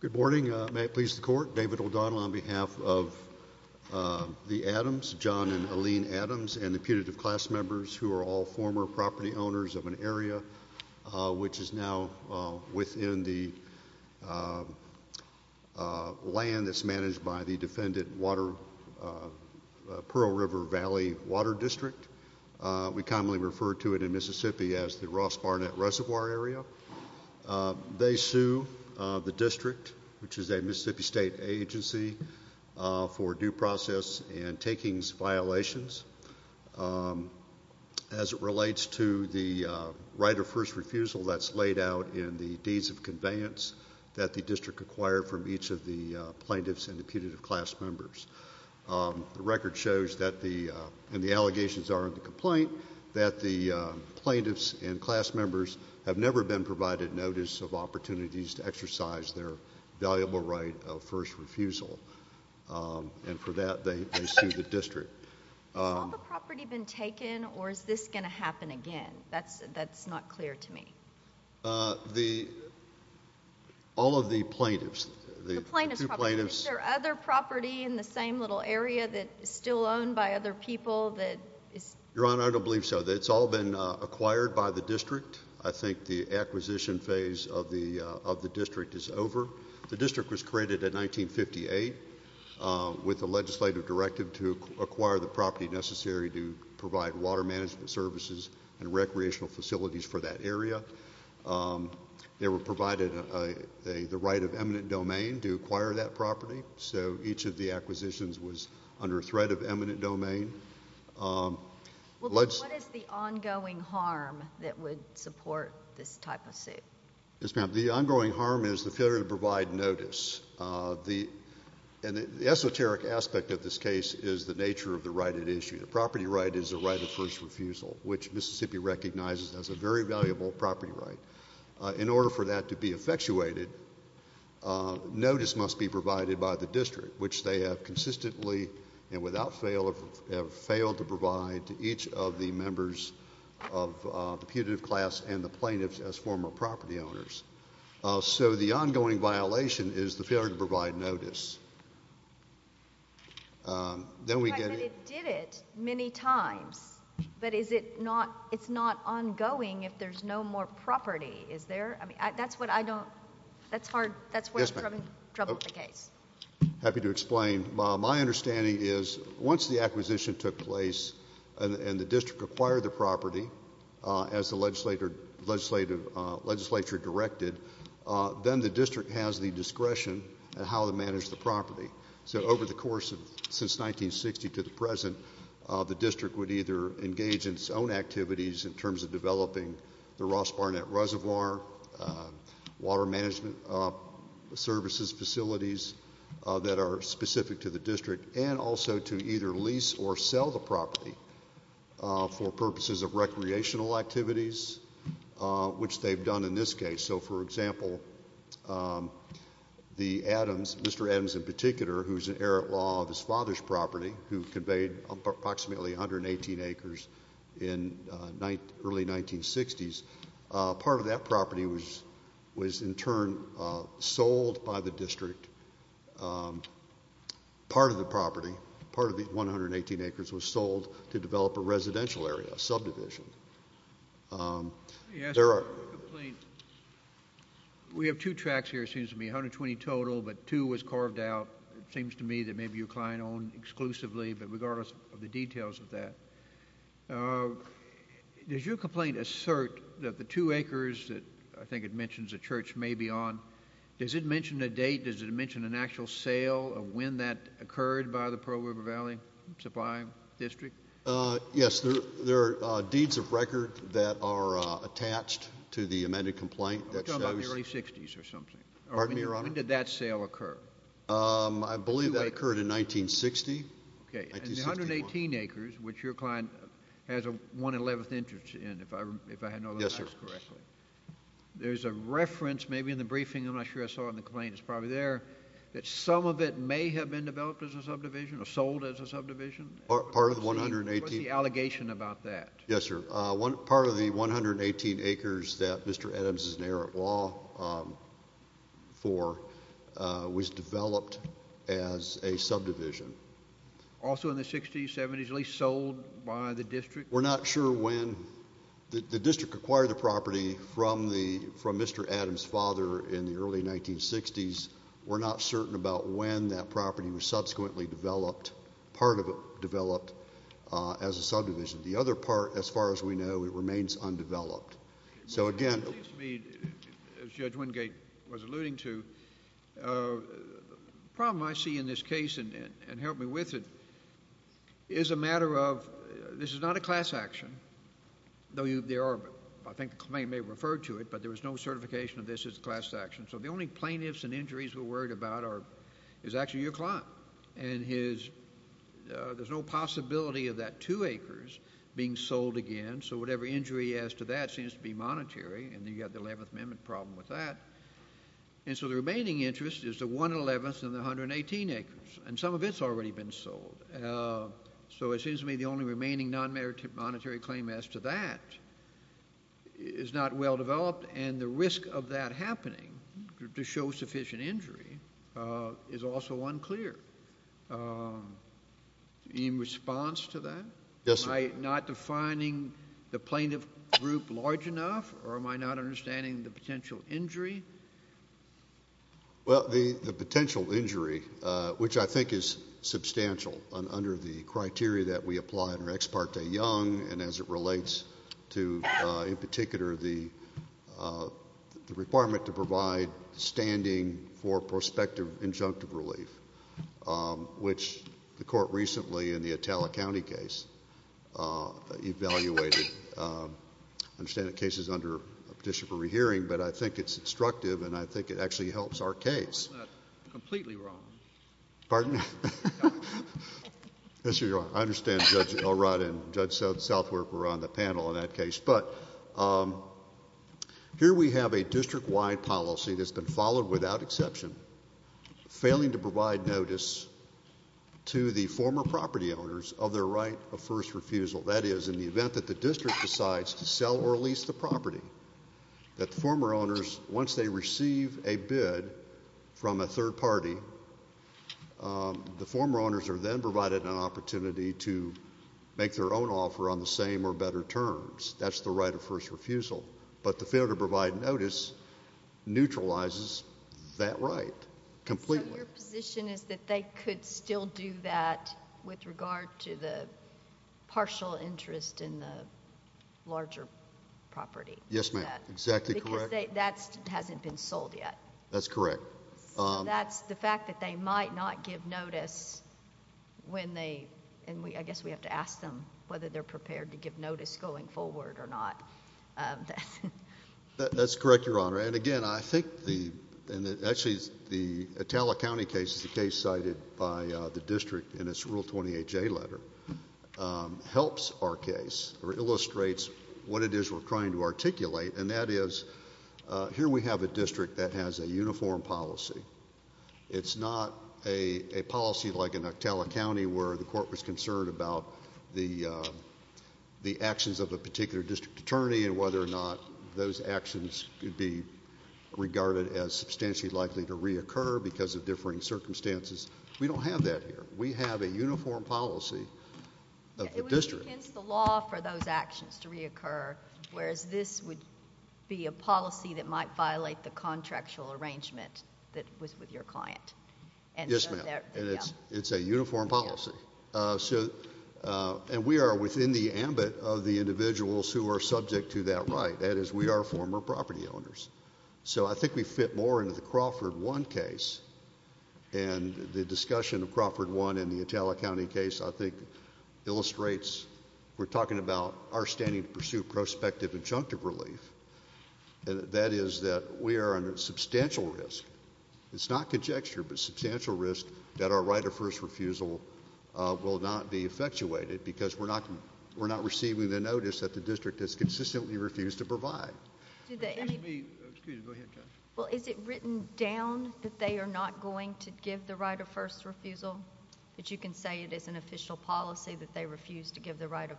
Good morning, may it please the court, David O'Donnell. On behalf of the Adams, John and Alene Adams, and the putative class members who are all former property owners of an area which is now within the land that's managed by the defendant, Pearl River Valley Water District. We commonly refer to it in Mississippi as the Ross Barnett Reservoir area. They sue the district, which is a Mississippi state agency, for due process and takings violations as it relates to the right of first refusal that's laid out in the deeds of conveyance that the district acquired from each of the plaintiffs and the putative class members. The record shows that the, and the allegations are in the complaint, that the plaintiffs and class members have never been provided notice of opportunities to exercise their valuable right of first refusal, and for that they sue the district. Has all the property been taken or is this going to happen again? That's not clear to me. All of the plaintiffs, the two plaintiffs. The plaintiffs' property. Is there other property in the same little area that is still owned by other people that is? Your Honor, I don't believe so. It's all been acquired by the district. I think the acquisition phase of the district is over. The district was created in 1958 with a legislative directive to acquire the property necessary to provide water management services and recreational facilities for that area. They were provided the right of eminent domain to acquire that property, so each of the acquisitions was under threat of eminent domain. What is the ongoing harm that would support this type of suit? Yes, ma'am. The ongoing harm is the failure to provide notice. The esoteric aspect of this case is the nature of the right at issue. The property right is the right of first refusal, which Mississippi recognizes as a very valuable property right. In order for that to be effectuated, notice must be provided by the district, which they have consistently and without fail have failed to provide to each of the members of the putative class and the plaintiffs as former property owners. The ongoing violation is the failure to provide notice. Then we get... It did it many times, but it's not ongoing if there's no more property, is there? That's what I don't... That's where I'm having trouble with the case. Happy to explain. My understanding is once the acquisition took place and the district acquired the property as the legislature directed, then the district has the discretion on how to manage the property. So over the course of... since 1960 to the present, the district would either engage in its own activities in terms of developing the Ross Barnett Reservoir, water management services, facilities that are specific to the district, and also to either lease or sell the property for purposes of recreational activities, which they've done in this case. So for example, the Adams... Mr. Adams in particular, who's an errant law of his father's property, who conveyed approximately 118 acres in early 1960s, part of that property was in turn sold by the district. Part of the property, part of the 118 acres, was sold to develop a residential area, subdivision. We have two tracts here, it seems to me, 120 total, but two was carved out, it seems to me that maybe your client owned exclusively, but regardless of the details of that, does your complaint assert that the two acres that I think it mentions a church may be on, does it mention a date, does it mention an actual sale of when that occurred by the Pearl River Valley Supply District? Yes, there are deeds of record that are attached to the amended complaint that shows... We're talking about the early 60s or something. Pardon me, Your Honor? When did that sale occur? I believe that occurred in 1960. Okay, and the 118 acres, which your client has a 111th interest in, if I know this correctly, there's a reference maybe in the briefing, I'm not sure I saw it in the complaint, it's probably there, that some of it may have been developed as a subdivision or sold as a subdivision? What's the allegation about that? Yes, sir. Part of the 118 acres that Mr. Adams is an errant law for was developed as a subdivision. Also in the 60s, 70s, at least sold by the district? We're not sure when. The district acquired the property from Mr. Adams' father in the early 1960s. We're not certain about when that property was subsequently developed, part of it developed as a subdivision. The other part, as far as we know, it remains undeveloped. So again... It seems to me, as Judge Wingate was alluding to, the problem I see in this case, and help me with it, is a matter of... this is not a class action, though I think the complaint may have referred to it, but there was no certification of this as a class action. So the only plaintiffs and injuries we're worried about is actually your client and his... there's no possibility of that two acres being sold again, so whatever injury he has to that seems to be monetary, and then you've got the 11th Amendment problem with that. And so the remaining interest is the 1 11th and the 118 acres, and some of it's already been sold. So it seems to me the only remaining non-monetary claim as to that is not well-developed, and the risk of that happening, to show sufficient injury, is also unclear. In response to that, am I not defining the plaintiff group large enough, or am I not understanding the potential injury? Well, the potential injury, which I think is substantial, under the criteria that we apply under Ex Parte Young, and as it relates to, in particular, the requirement to provide standing for prospective injunctive relief, which the court recently, in the Itala County case, evaluated. I understand the case is under a petition for rehearing, but I think it's instructive and I think it actually helps our case. I understand Judge Elrod and Judge Southworth were on the panel on that case, but here we have a district-wide policy that's been followed without exception, failing to provide notice to the former property owners of their right of first refusal. That is, in the event that the district decides to defer, the former owners, once they receive a bid from a third party, the former owners are then provided an opportunity to make their own offer on the same or better terms. That's the right of first refusal. But the failure to provide notice neutralizes that right completely. So your position is that they could still do that with regard to the partial interest in the larger property? Yes, ma'am. Exactly correct. Because that hasn't been sold yet. That's correct. That's the fact that they might not give notice when they, and I guess we have to ask them whether they're prepared to give notice going forward or not. That's correct, Your Honor. And again, I think the, and actually the Itala County case is cited by the district in its Rule 28J letter, helps our case or illustrates what it is we're trying to articulate, and that is here we have a district that has a uniform policy. It's not a policy like in Itala County where the court was concerned about the actions of a particular district attorney and whether or not those actions could be regarded as differing circumstances. We don't have that here. We have a uniform policy of the district. It would be against the law for those actions to reoccur, whereas this would be a policy that might violate the contractual arrangement that was with your client. Yes, ma'am. And it's a uniform policy. And we are within the ambit of the individuals who are subject to that right. That is, we are former property owners. So I think we have a uniform policy. And the discussion of Crawford 1 in the Itala County case I think illustrates we're talking about our standing to pursue prospective injunctive relief. That is that we are under substantial risk. It's not conjecture, but substantial risk that our right of first refusal will not be effectuated because we're not receiving the notice that the district has consistently refused to provide. Excuse me. Go ahead, Judge. Well, is it written down that they are not going to give the right of first refusal? That you can say it is an official policy that they refuse to give the right of...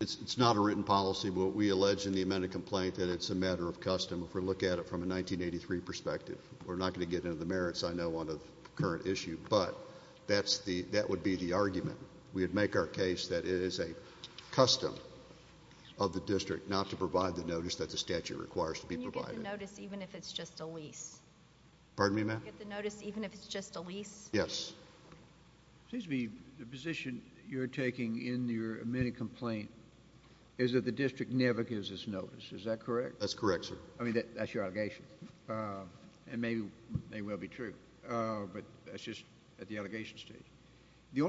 It's not a written policy. We allege in the amended complaint that it's a matter of custom. If we look at it from a 1983 perspective, we're not going to get into the merits I know on the current issue, but that would be the argument. We would make our case that it is a custom of the district not to provide the notice that the statute requires to be provided. Can you get the notice even if it's just a lease? Pardon me, ma'am? Can you get the notice even if it's just a lease? Yes. Excuse me. The position you're taking in your amended complaint is that the district never gives us notice. Is that correct? That's correct, sir. I mean, that's your allegation. And maybe they will be true. But that's just at the You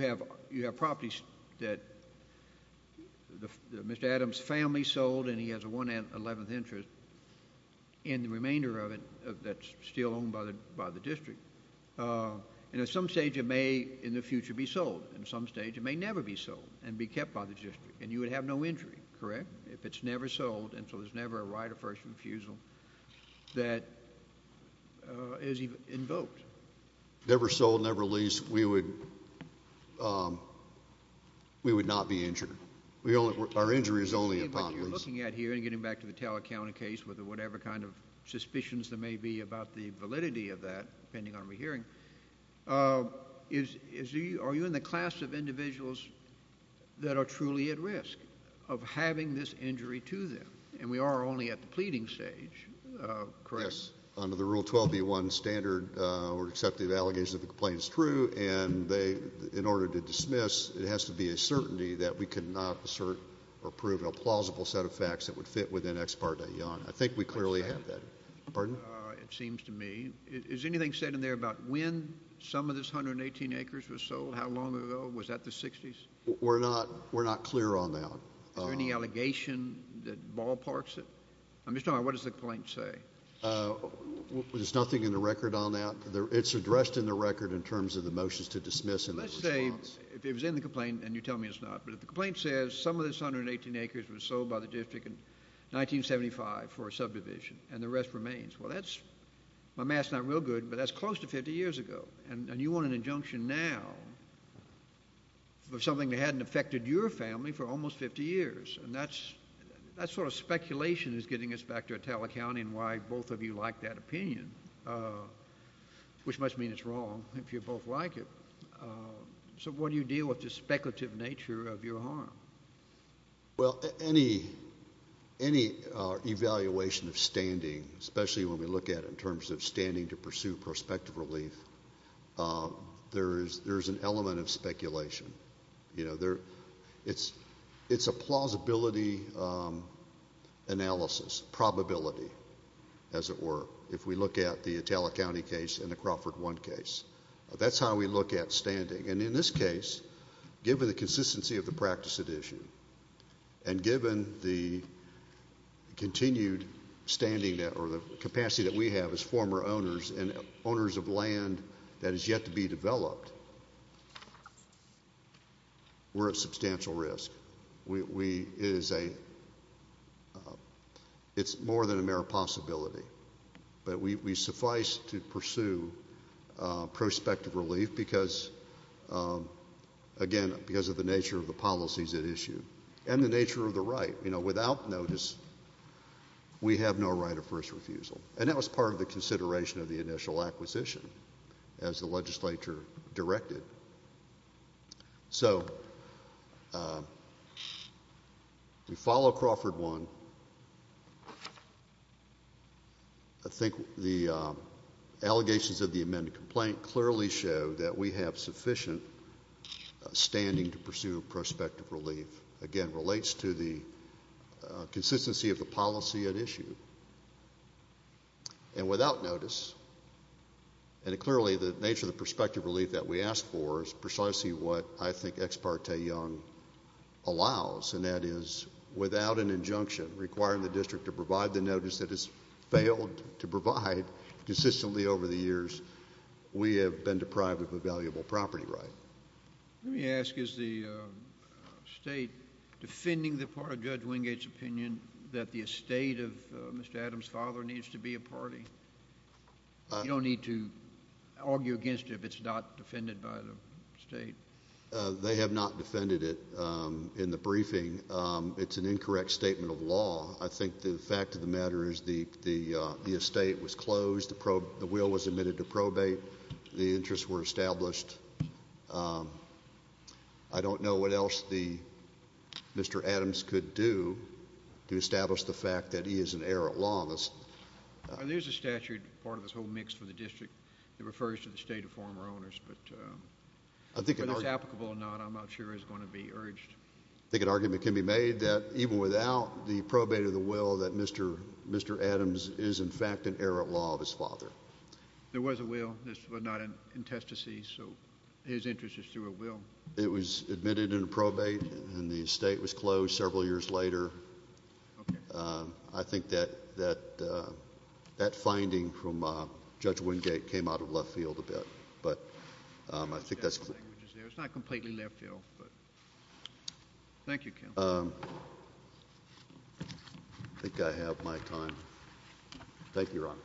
have properties that Mr. Adams' family sold, and he has a one-eleventh interest, and the remainder of it that's still owned by the district. And at some stage, it may in the future be sold. At some stage, it may never be sold and be kept by the district, and you would have no injury, correct, if it's never sold, and so there's never a right of first refusal that is invoked. Never sold, never leased, we would not be injured. Our injury is only upon lease. What you're looking at here, and getting back to the Taylor County case with whatever kind of suspicions there may be about the validity of that, depending on what we're hearing, are you in the class of individuals that are truly at risk of having this injury to them? And we are only at the pleading stage, correct? Yes, under the Rule 12b-1 standard, we're accepting the allegations that the complaint is true, and they, in order to dismiss, it has to be a certainty that we cannot assert or prove a plausible set of facts that would fit within Ex parte Young. I think we clearly have that. Pardon? It seems to me. Is anything said in there about when some of this 118 acres was sold? How long ago? Was that the 60s? We're not clear on that. Is there any allegation that ballparks it? I'm just talking about what does the complaint say? There's nothing in the record on that. It's addressed in the record in terms of the motions to dismiss and the response. Let's say if it was in the complaint and you tell me it's not, but if the complaint says some of this 118 acres was sold by the district in 1975 for a subdivision and the rest remains, well, that's, my math's not real good, but that's close to 50 years ago, and you want an injunction now for something that hadn't affected your family for almost 50 years, and that sort of speculation is getting us back to Italic County and why both of you like that opinion, which must mean it's wrong if you both like it. So what do you deal with the speculative nature of your harm? Well, any evaluation of standing, especially when we look at it in terms of standing to harm, there's an element of speculation. It's a plausibility analysis, probability, as it were, if we look at the Italic County case and the Crawford One case. That's how we look at standing, and in this case, given the consistency of the practice at issue and given the continued standing or the capacity that we have as former owners and owners of land that is yet to be developed, we're at substantial risk. It's more than a mere possibility, but we suffice to pursue prospective relief because, again, because of the nature of the policies at issue and the nature of the right. Without notice, we have no right of first refusal, and that was part of the consideration of the initial acquisition as the legislature directed. So we follow Crawford One. I think the allegations of the amended complaint clearly show that we have sufficient standing to pursue prospective relief. Again, it relates to the consistency of the policy at issue, and without notice, and clearly the nature of the prospective relief that we asked for is precisely what I think Ex parte Young allows, and that is without an injunction requiring the district to provide the notice that it's failed to provide consistently over the years, we have been deprived of a valuable property right. Let me ask, is the state defending the part of Judge Wingate's opinion that the estate of Mr. Adams' father needs to be a party? You don't need to argue against it if it's not defended by the state. They have not defended it in the briefing. It's an incorrect statement of law. I think the fact of the matter is the estate was closed. The will was admitted to probate. The interests were established. I don't know what else Mr. Adams could do to establish the fact that he is an heir at law. There's a statute, part of this whole mix for the district, that refers to the estate of former owners, but whether it's applicable or not, I'm not sure is going to be urged. I think an argument can be made that even without the probate of the will that Mr. Adams is in fact an heir at law of his father. There was a will, but not in testacies, so his interest is through a will. It was admitted in a probate, and the estate was closed several years later. I think that that finding from Judge Wingate came out of left field a bit, but I think that's clear. It's not completely left field. Thank you, counsel. I think I have my time. Thank you, Your Honor.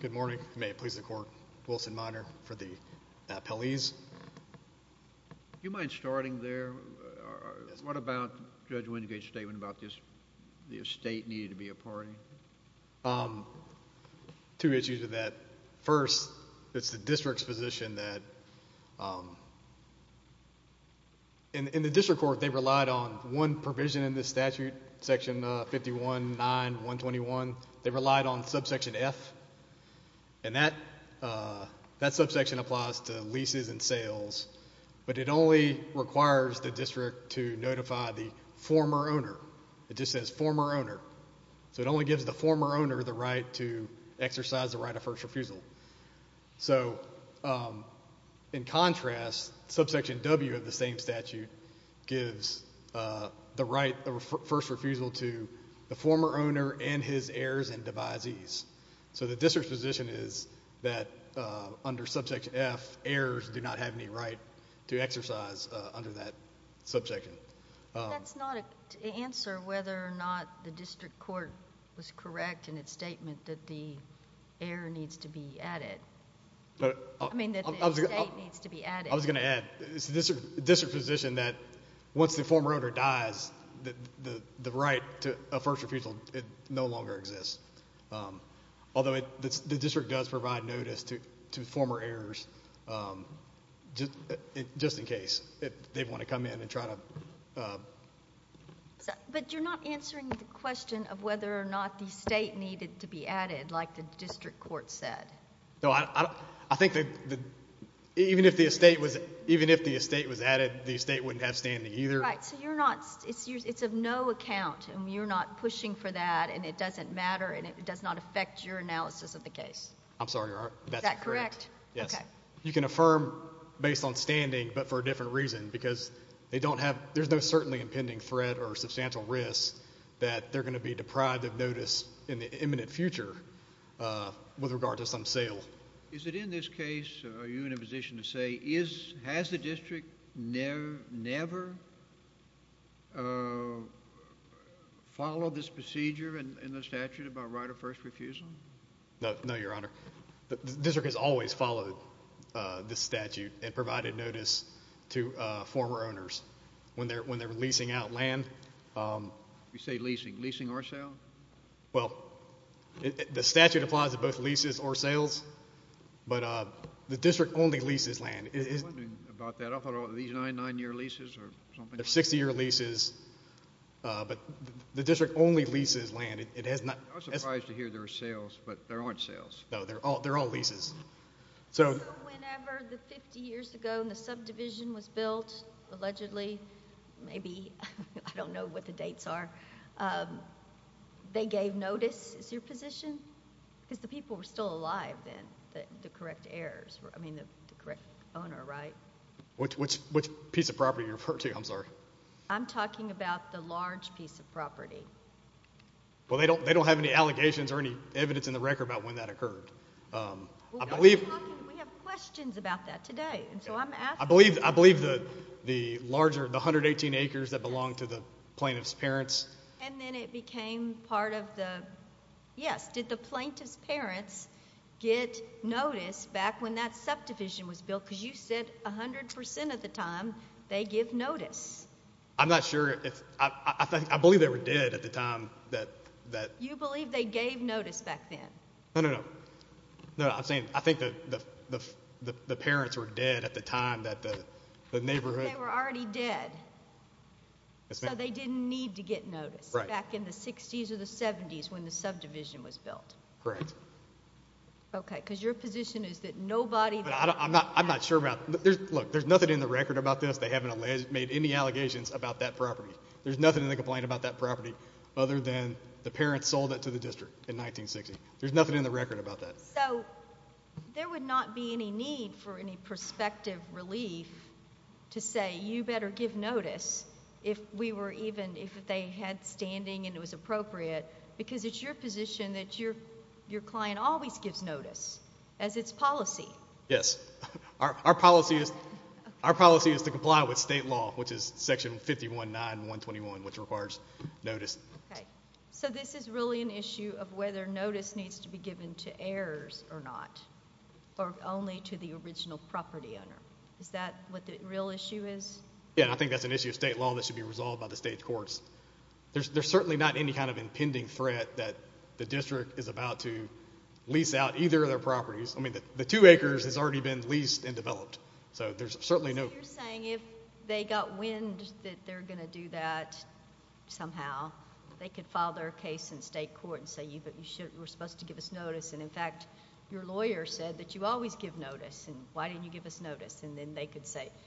Good morning. May it please the court. Wilson Minor for the appellees. Do you mind starting there? Yes. What about Judge Wingate's statement about this, the estate needed to be a party? Two issues with that. First, it's the district's position that in the district court they relied on one provision in the statute, section 51-9-121. They relied on subsection F, and that subsection applies to leases and sales, but it only requires the district to notify the former owner. It just says former owner, so it only gives the former owner the right to exercise the right of first refusal. In contrast, subsection W of the same statute gives the right of first refusal to the former owner and his heirs and devisees, so the district's position is that under subsection F, heirs do not have any right to exercise under that subsection. That's not an answer whether or not the district court was correct in its statement that the heir needs to be added. I mean that the estate needs to be added. I was going to add, it's the district's position that once the former owner dies, the right to a first refusal no longer exists, although the district does provide notice to former owners in case they want to come in and try to... But you're not answering the question of whether or not the estate needed to be added like the district court said. No, I think that even if the estate was added, the estate wouldn't have standing either. Right, so you're not, it's of no account and you're not pushing for that and it doesn't matter and it does not affect your analysis of the case. I'm sorry, Your Honor. Is that correct? Yes. Okay. You can affirm based on standing but for a different reason because they don't have, there's no certainly impending threat or substantial risk that they're going to be deprived of notice in the imminent future with regard to some sale. Is it in this case, are you in a position to say, has the district never followed this procedure in the statute about right of first refusal? No, Your Honor. The district has always followed the statute and provided notice to former owners when they're leasing out land. You say leasing, leasing or sale? Well, the statute applies to both leases or sales, but the district only leases land. I was wondering about that. I thought it was these nine, nine-year leases or something. They're 60-year leases, but the district only leases land. I was surprised to hear there were sales, but there aren't sales. No, they're all leases. So whenever the 50 years ago the subdivision was built, allegedly, maybe, I don't know what the dates are, they gave notice. Is that your position? Because the people were still alive then, the correct heirs, I mean the correct owner, right? Which piece of property are you referring to? I'm sorry. I'm talking about the large piece of property. Well, they don't have any allegations or any evidence in the record about when that occurred. We have questions about that today, so I'm asking. I believe the larger, the 118 acres that belonged to the plaintiff's parents. And then it became part of the, yes, did the plaintiff's parents get notice back when that subdivision was built? Because you said 100% of the time they give notice. I'm not sure. I believe they were dead at the time. You believe they gave notice back then? No, no, no. No, I'm saying I think the parents were dead at the time that the neighborhood. They were already dead. So they didn't need to get notice back in the 60s or the 70s when the subdivision was built. Correct. Okay, because your position is that nobody. I'm not sure about, look, there's nothing in the record about this. They haven't made any allegations about that property. There's nothing in the complaint about that property other than the parents sold it to the district in 1960. There's nothing in the record about that. So there would not be any need for any prospective relief to say you better give notice if we were even, if they had standing and it was appropriate because it's your position that your client always gives notice as its policy. Yes. Our policy is to comply with state law, which is Section 519, 121, which requires notice. Okay. So this is really an issue of whether notice needs to be given to heirs or not or only to the original property owner. Is that what the real issue is? Yeah, and I think that's an issue of state law that should be resolved by the state courts. There's certainly not any kind of impending threat that the district is about to lease out either of their properties. I mean, the two acres has already been leased and developed. So there's certainly no – So you're saying if they got wind that they're going to do that somehow, they could file their case in state court and say you were supposed to give us notice, and, in fact, your lawyer said that you always give notice and why didn't you give us notice? And then they could say –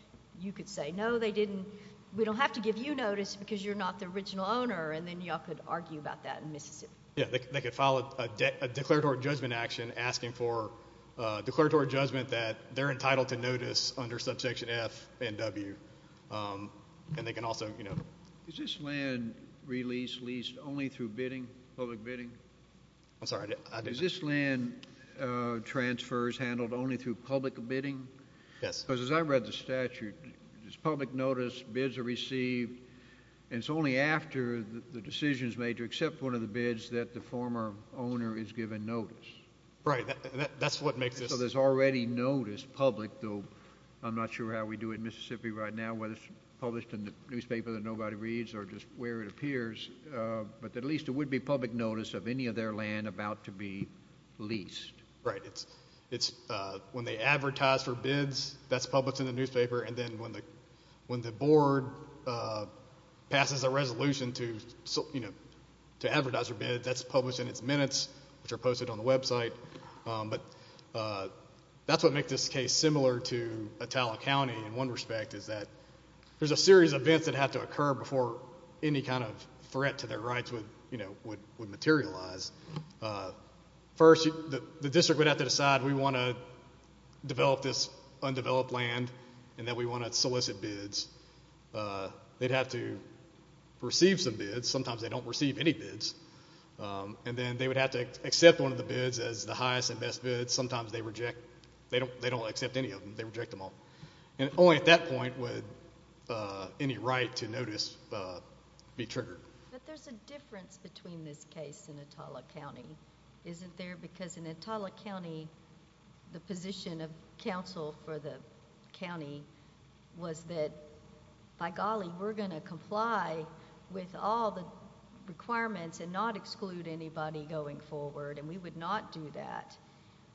you could say, no, they didn't. We don't have to give you notice because you're not the original owner, and then you all could argue about that in Mississippi. Yeah, they could file a declaratory judgment action asking for declaratory judgment that they're entitled to notice under subsection F and W, and they can also – Is this land released, leased only through bidding, public bidding? I'm sorry, I didn't – Is this land transfers handled only through public bidding? Yes. Because as I read the statute, it's public notice, bids are received, and it's only after the decision is made to accept one of the bids that the former owner is given notice. Right, and that's what makes this – So there's already notice public, though I'm not sure how we do it in Mississippi right now, whether it's published in the newspaper that nobody reads or just where it appears, but at least it would be public notice of any of their land about to be leased. Right, it's when they advertise for bids, that's published in the newspaper, and then when the board passes a resolution to advertise for bids, that's published in its minutes, which are posted on the website. But that's what makes this case similar to Atala County in one respect, is that there's a series of events that have to occur before any kind of threat to their rights would materialize. First, the district would have to decide we want to develop this undeveloped land, and that we want to solicit bids. They'd have to receive some bids. Sometimes they don't receive any bids. And then they would have to accept one of the bids as the highest and best bid. Sometimes they reject – they don't accept any of them. They reject them all. And only at that point would any right to notice be triggered. But there's a difference between this case and Atala County, isn't there? Because in Atala County, the position of counsel for the county was that, by golly, we're going to comply with all the requirements and not exclude anybody going forward, and we would not do that.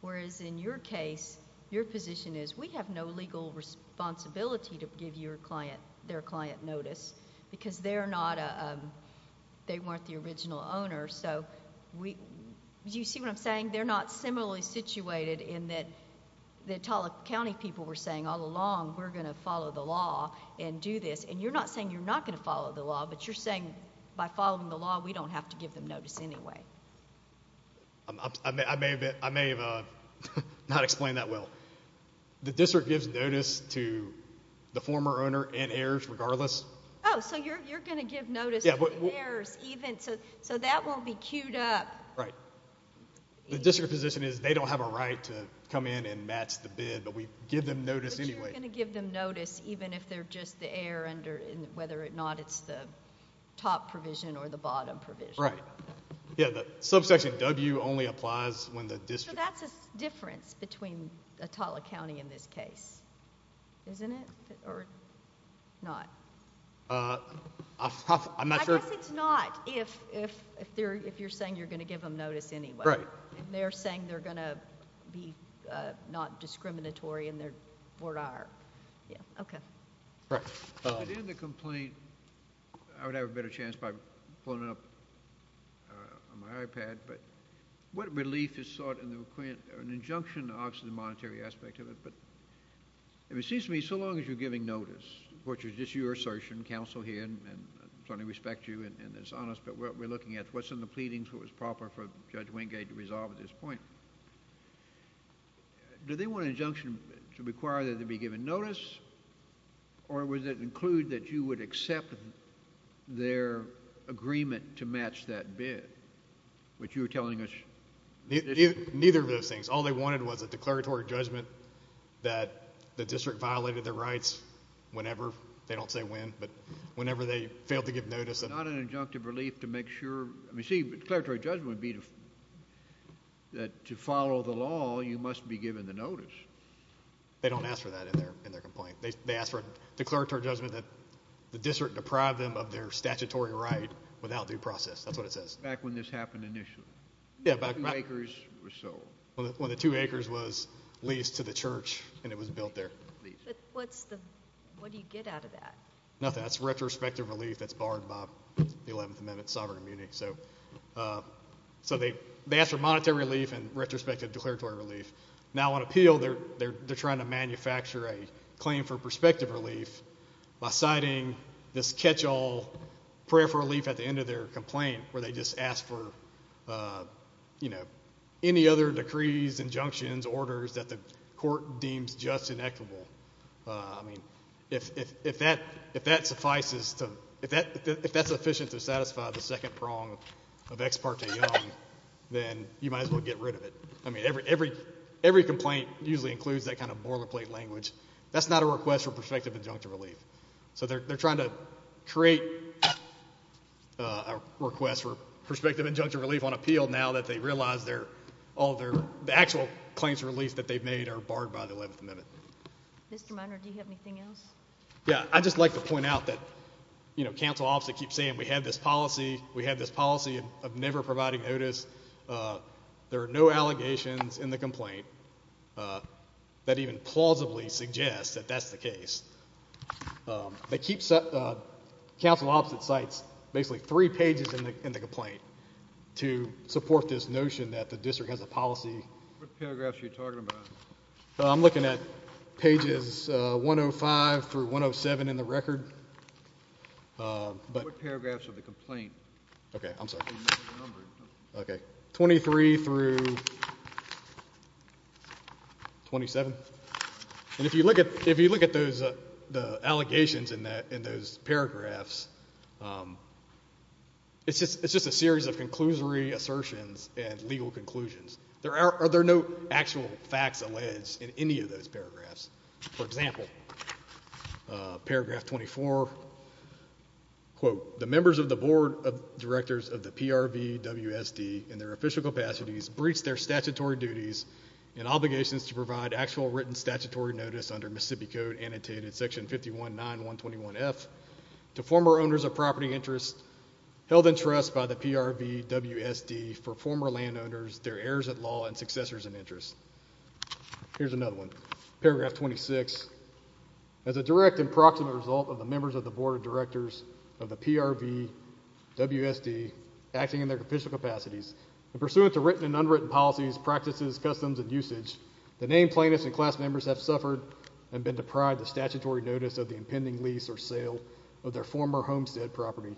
Whereas in your case, your position is we have no legal responsibility to give your client their client notice, because they're not a – they weren't the original owner. So do you see what I'm saying? They're not similarly situated in that the Atala County people were saying all along we're going to follow the law and do this. And you're not saying you're not going to follow the law, but you're saying by following the law we don't have to give them notice anyway. I may have not explained that well. The district gives notice to the former owner and heirs regardless. Oh, so you're going to give notice to the heirs even? So that won't be queued up. Right. The district position is they don't have a right to come in and match the bid, but we give them notice anyway. But you're going to give them notice even if they're just the heir, whether or not it's the top provision or the bottom provision. Right. Yeah, the subsection W only applies when the district – So that's a difference between Atala County in this case, isn't it? Or not? I'm not sure – I guess it's not if you're saying you're going to give them notice anyway. Right. They're saying they're going to be not discriminatory in their board IR. Yeah. Okay. Right. In the complaint, I would have a better chance by pulling it up on my iPad, but what relief is sought in an injunction to the monetary aspect of it? But it seems to me so long as you're giving notice, which is just your assertion, and I certainly respect you and it's honest, but we're looking at what's in the pleadings, what was proper for Judge Wingate to resolve at this point. Do they want an injunction to require that they be given notice, or would it include that you would accept their agreement to match that bid, which you were telling us? Neither of those things. All they wanted was a declaratory judgment that the district violated their rights whenever. They don't say when, but whenever they failed to give notice. Not an injunctive relief to make sure. I mean, see, declaratory judgment would be that to follow the law, you must be given the notice. They don't ask for that in their complaint. They ask for a declaratory judgment that the district deprived them of their statutory right without due process. That's what it says. Back when this happened initially. Yeah. When the two acres was sold. When the two acres was leased to the church and it was built there. What do you get out of that? Nothing. That's retrospective relief that's borrowed by the 11th Amendment, Sovereign of Munich. So they ask for monetary relief and retrospective declaratory relief. Now on appeal, they're trying to manufacture a claim for prospective relief by citing this catch-all prayer for relief at the end of their complaint where they just ask for, you know, any other decrees, injunctions, orders that the court deems just and equitable. I mean, if that suffices to, if that's sufficient to satisfy the second prong of Ex parte Young, then you might as well get rid of it. I mean, every complaint usually includes that kind of boilerplate language. That's not a request for prospective injunctive relief. So they're trying to create a request for prospective injunctive relief on appeal now that they realize all their actual claims for relief that they've made are barred by the 11th Amendment. Mr. Minor, do you have anything else? Yeah. I'd just like to point out that, you know, counsel often keeps saying we have this policy. We have this policy of never providing notice. There are no allegations in the complaint that even plausibly suggest that that's the case. Counsel often cites basically three pages in the complaint to support this notion that the district has a policy. What paragraphs are you talking about? I'm looking at pages 105 through 107 in the record. What paragraphs of the complaint? Okay, I'm sorry. Okay, 23 through 27. And if you look at those allegations in those paragraphs, it's just a series of conclusory assertions and legal conclusions. There are no actual facts alleged in any of those paragraphs. For example, paragraph 24, quote, Here's another one. Paragraph 26. As a direct and proximate result of the members of the Board of Directors of the PRVWSD acting in their official capacities, and pursuant to written and unwritten policies, practices, customs, and usage, the named plaintiffs and class members have suffered and been deprived of statutory notice of the impending lease or sale of their former homestead property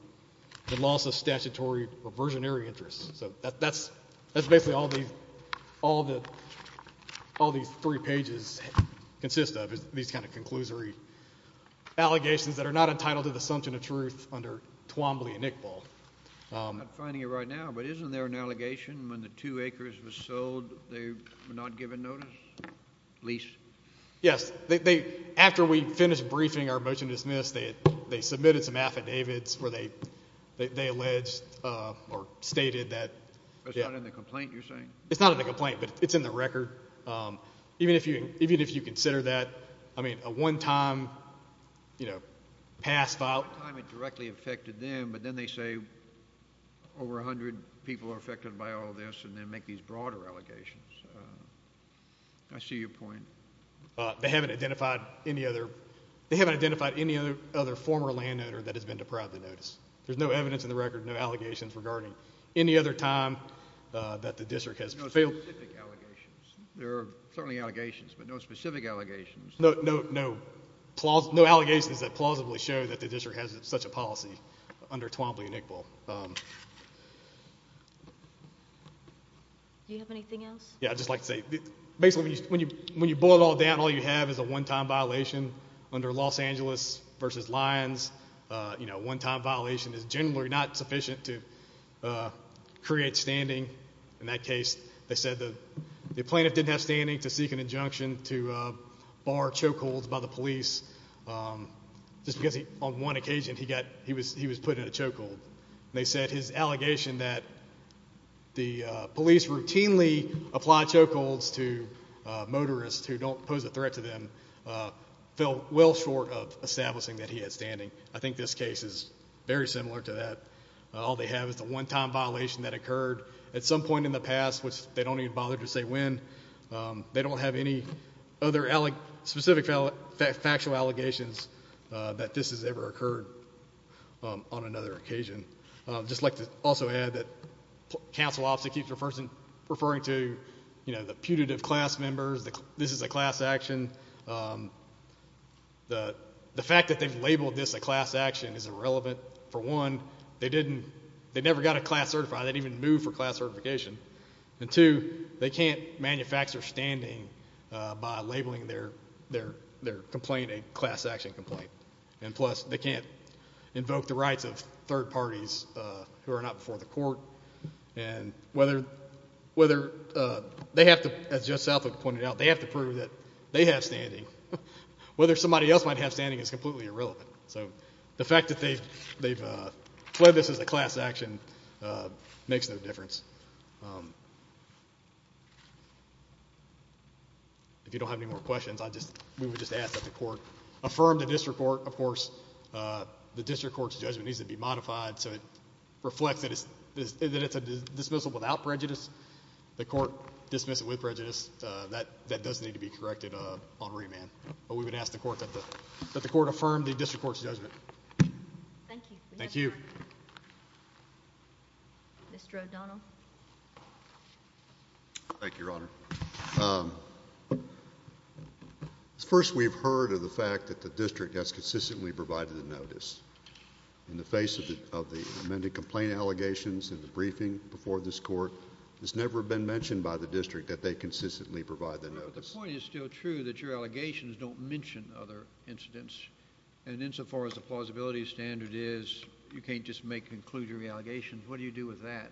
and loss of statutory or versionary interests. So that's basically all these three pages consist of is these kind of conclusory allegations that are not entitled to the assumption of truth under Twombly and Iqbal. I'm not finding it right now, but isn't there an allegation when the two acres were sold, they were not given notice, lease? Yes. After we finished briefing our motion to dismiss, they submitted some affidavits where they alleged or stated that It's not in the complaint you're saying? It's not in the complaint, but it's in the record. Even if you consider that, I mean, a one-time pass file One time it directly affected them, but then they say over 100 people are affected by all this and then make these broader allegations. I see your point. They haven't identified any other former landowner that has been deprived of notice. There's no evidence in the record, no allegations regarding any other time that the district has failed. No specific allegations. There are certainly allegations, but no specific allegations. No allegations that plausibly show that the district has such a policy under Twombly and Iqbal. Do you have anything else? Yeah, I'd just like to say, basically when you boil it all down, all you have is a one-time violation under Los Angeles v. Lyons. One-time violation is generally not sufficient to create standing. In that case, they said the plaintiff didn't have standing to seek an injunction to bar chokeholds by the police. Just because on one occasion he was put in a chokehold. They said his allegation that the police routinely apply chokeholds to motorists who don't pose a threat to them fell well short of establishing that he had standing. I think this case is very similar to that. All they have is the one-time violation that occurred at some point in the past, which they don't even bother to say when. They don't have any other specific factual allegations that this has ever occurred on another occasion. I'd just like to also add that the council officer keeps referring to the putative class members, this is a class action. The fact that they've labeled this a class action is irrelevant. For one, they never got a class certified. They didn't even move for class certification. Two, they can't manufacture standing by labeling their complaint a class action complaint. Plus, they can't invoke the rights of third parties who are not before the court. As Judge Southwood pointed out, they have to prove that they have standing. Whether somebody else might have standing is completely irrelevant. The fact that they've pled this as a class action makes no difference. If you don't have any more questions, we would just ask that the court affirm the district court. Of course, the district court's judgment needs to be modified so it reflects that it's a dismissal without prejudice. The court dismisses it with prejudice. That does need to be corrected on remand. We would ask that the court affirm the district court's judgment. Thank you. Mr. O'Donnell. Thank you, Your Honor. First, we've heard of the fact that the district has consistently provided the notice. In the face of the amended complaint allegations in the briefing before this court, it's never been mentioned by the district that they consistently provide the notice. But the point is still true that your allegations don't mention other incidents. And insofar as the plausibility standard is, you can't just make conclusionary allegations. What do you do with that?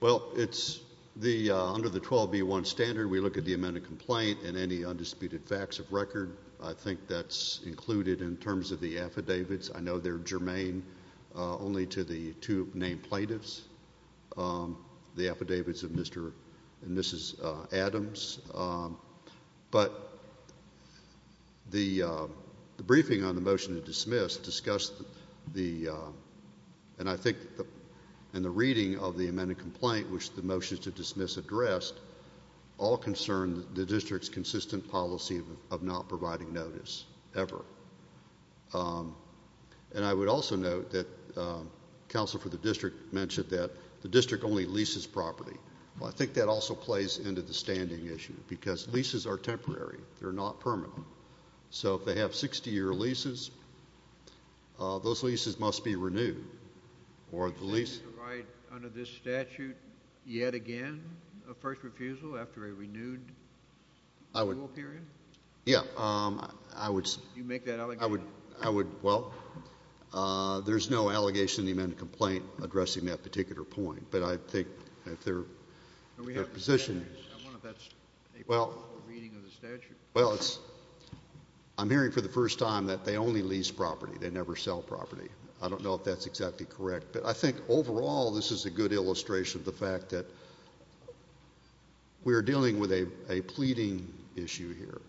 Well, under the 12B1 standard, we look at the amended complaint and any undisputed facts of record. I think that's included in terms of the affidavits. I know they're germane only to the two named plaintiffs, the affidavits of Mr. and Mrs. Adams. But the briefing on the motion to dismiss discussed the, and I think in the reading of the amended complaint, which the motion to dismiss addressed, all concerned the district's consistent policy of not providing notice ever. And I would also note that counsel for the district mentioned that the district only leases property. Well, I think that also plays into the standing issue, because leases are temporary. They're not permanent. So if they have 60-year leases, those leases must be renewed. Under this statute, yet again a first refusal after a renewed rule period? Yeah. You make that allegation? Well, there's no allegation in the amended complaint addressing that particular point. But I think that their position is. I wonder if that's a part of the reading of the statute. Well, I'm hearing for the first time that they only lease property. They never sell property. I don't know if that's exactly correct. But I think overall this is a good illustration of the fact that we are dealing with a pleading issue here.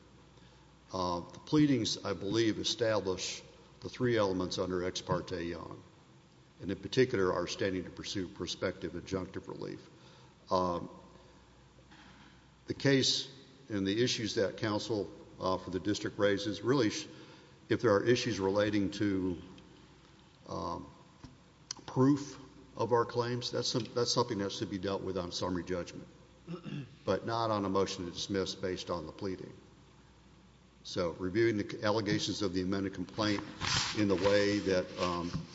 The pleadings, I believe, establish the three elements under Ex Parte Young, and in particular our standing to pursue prospective adjunctive relief. The case and the issues that counsel for the district raises, really, if there are issues relating to proof of our claims, that's something that should be dealt with on summary judgment, but not on a motion to dismiss based on the pleading. So reviewing the allegations of the amended complaint in the way that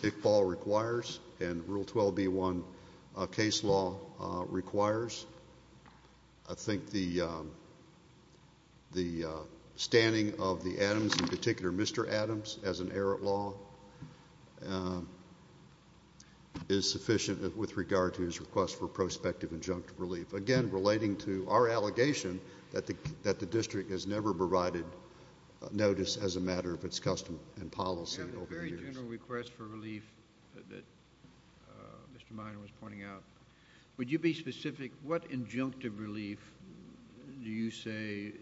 Iqbal requires and Rule 12b-1 case law requires, I think the standing of the Adams, in particular Mr. Adams, as an errant law, is sufficient with regard to his request for prospective adjunctive relief. Again, relating to our allegation that the district has never provided notice as a matter of its custom and policy over the years. You have a very general request for relief that Mr. Minor was pointing out. Would you be specific? What adjunctive relief do you say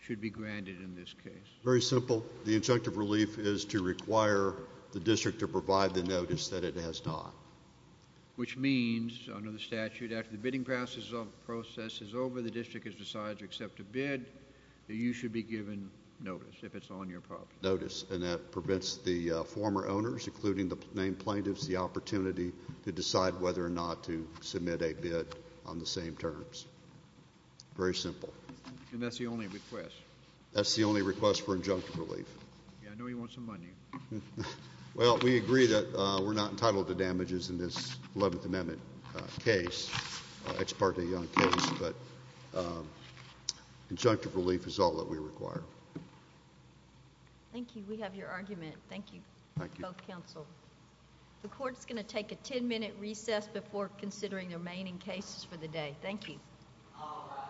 should be granted in this case? Very simple. The adjunctive relief is to require the district to provide the notice that it has not. Which means, under the statute, after the bidding process is over, the district has decided to accept a bid, that you should be given notice if it's on your property. Notice, and that prevents the former owners, including the named plaintiffs, the opportunity to decide whether or not to submit a bid on the same terms. Very simple. And that's the only request? That's the only request for adjunctive relief. Yeah, I know you want some money. Well, we agree that we're not entitled to damages in this 11th Amendment case. It's part of the young case, but adjunctive relief is all that we require. Thank you. We have your argument. Thank you. Thank you. Both counsel. The court's going to take a 10-minute recess before considering the remaining cases for the day. Thank you. All rise. Thank you.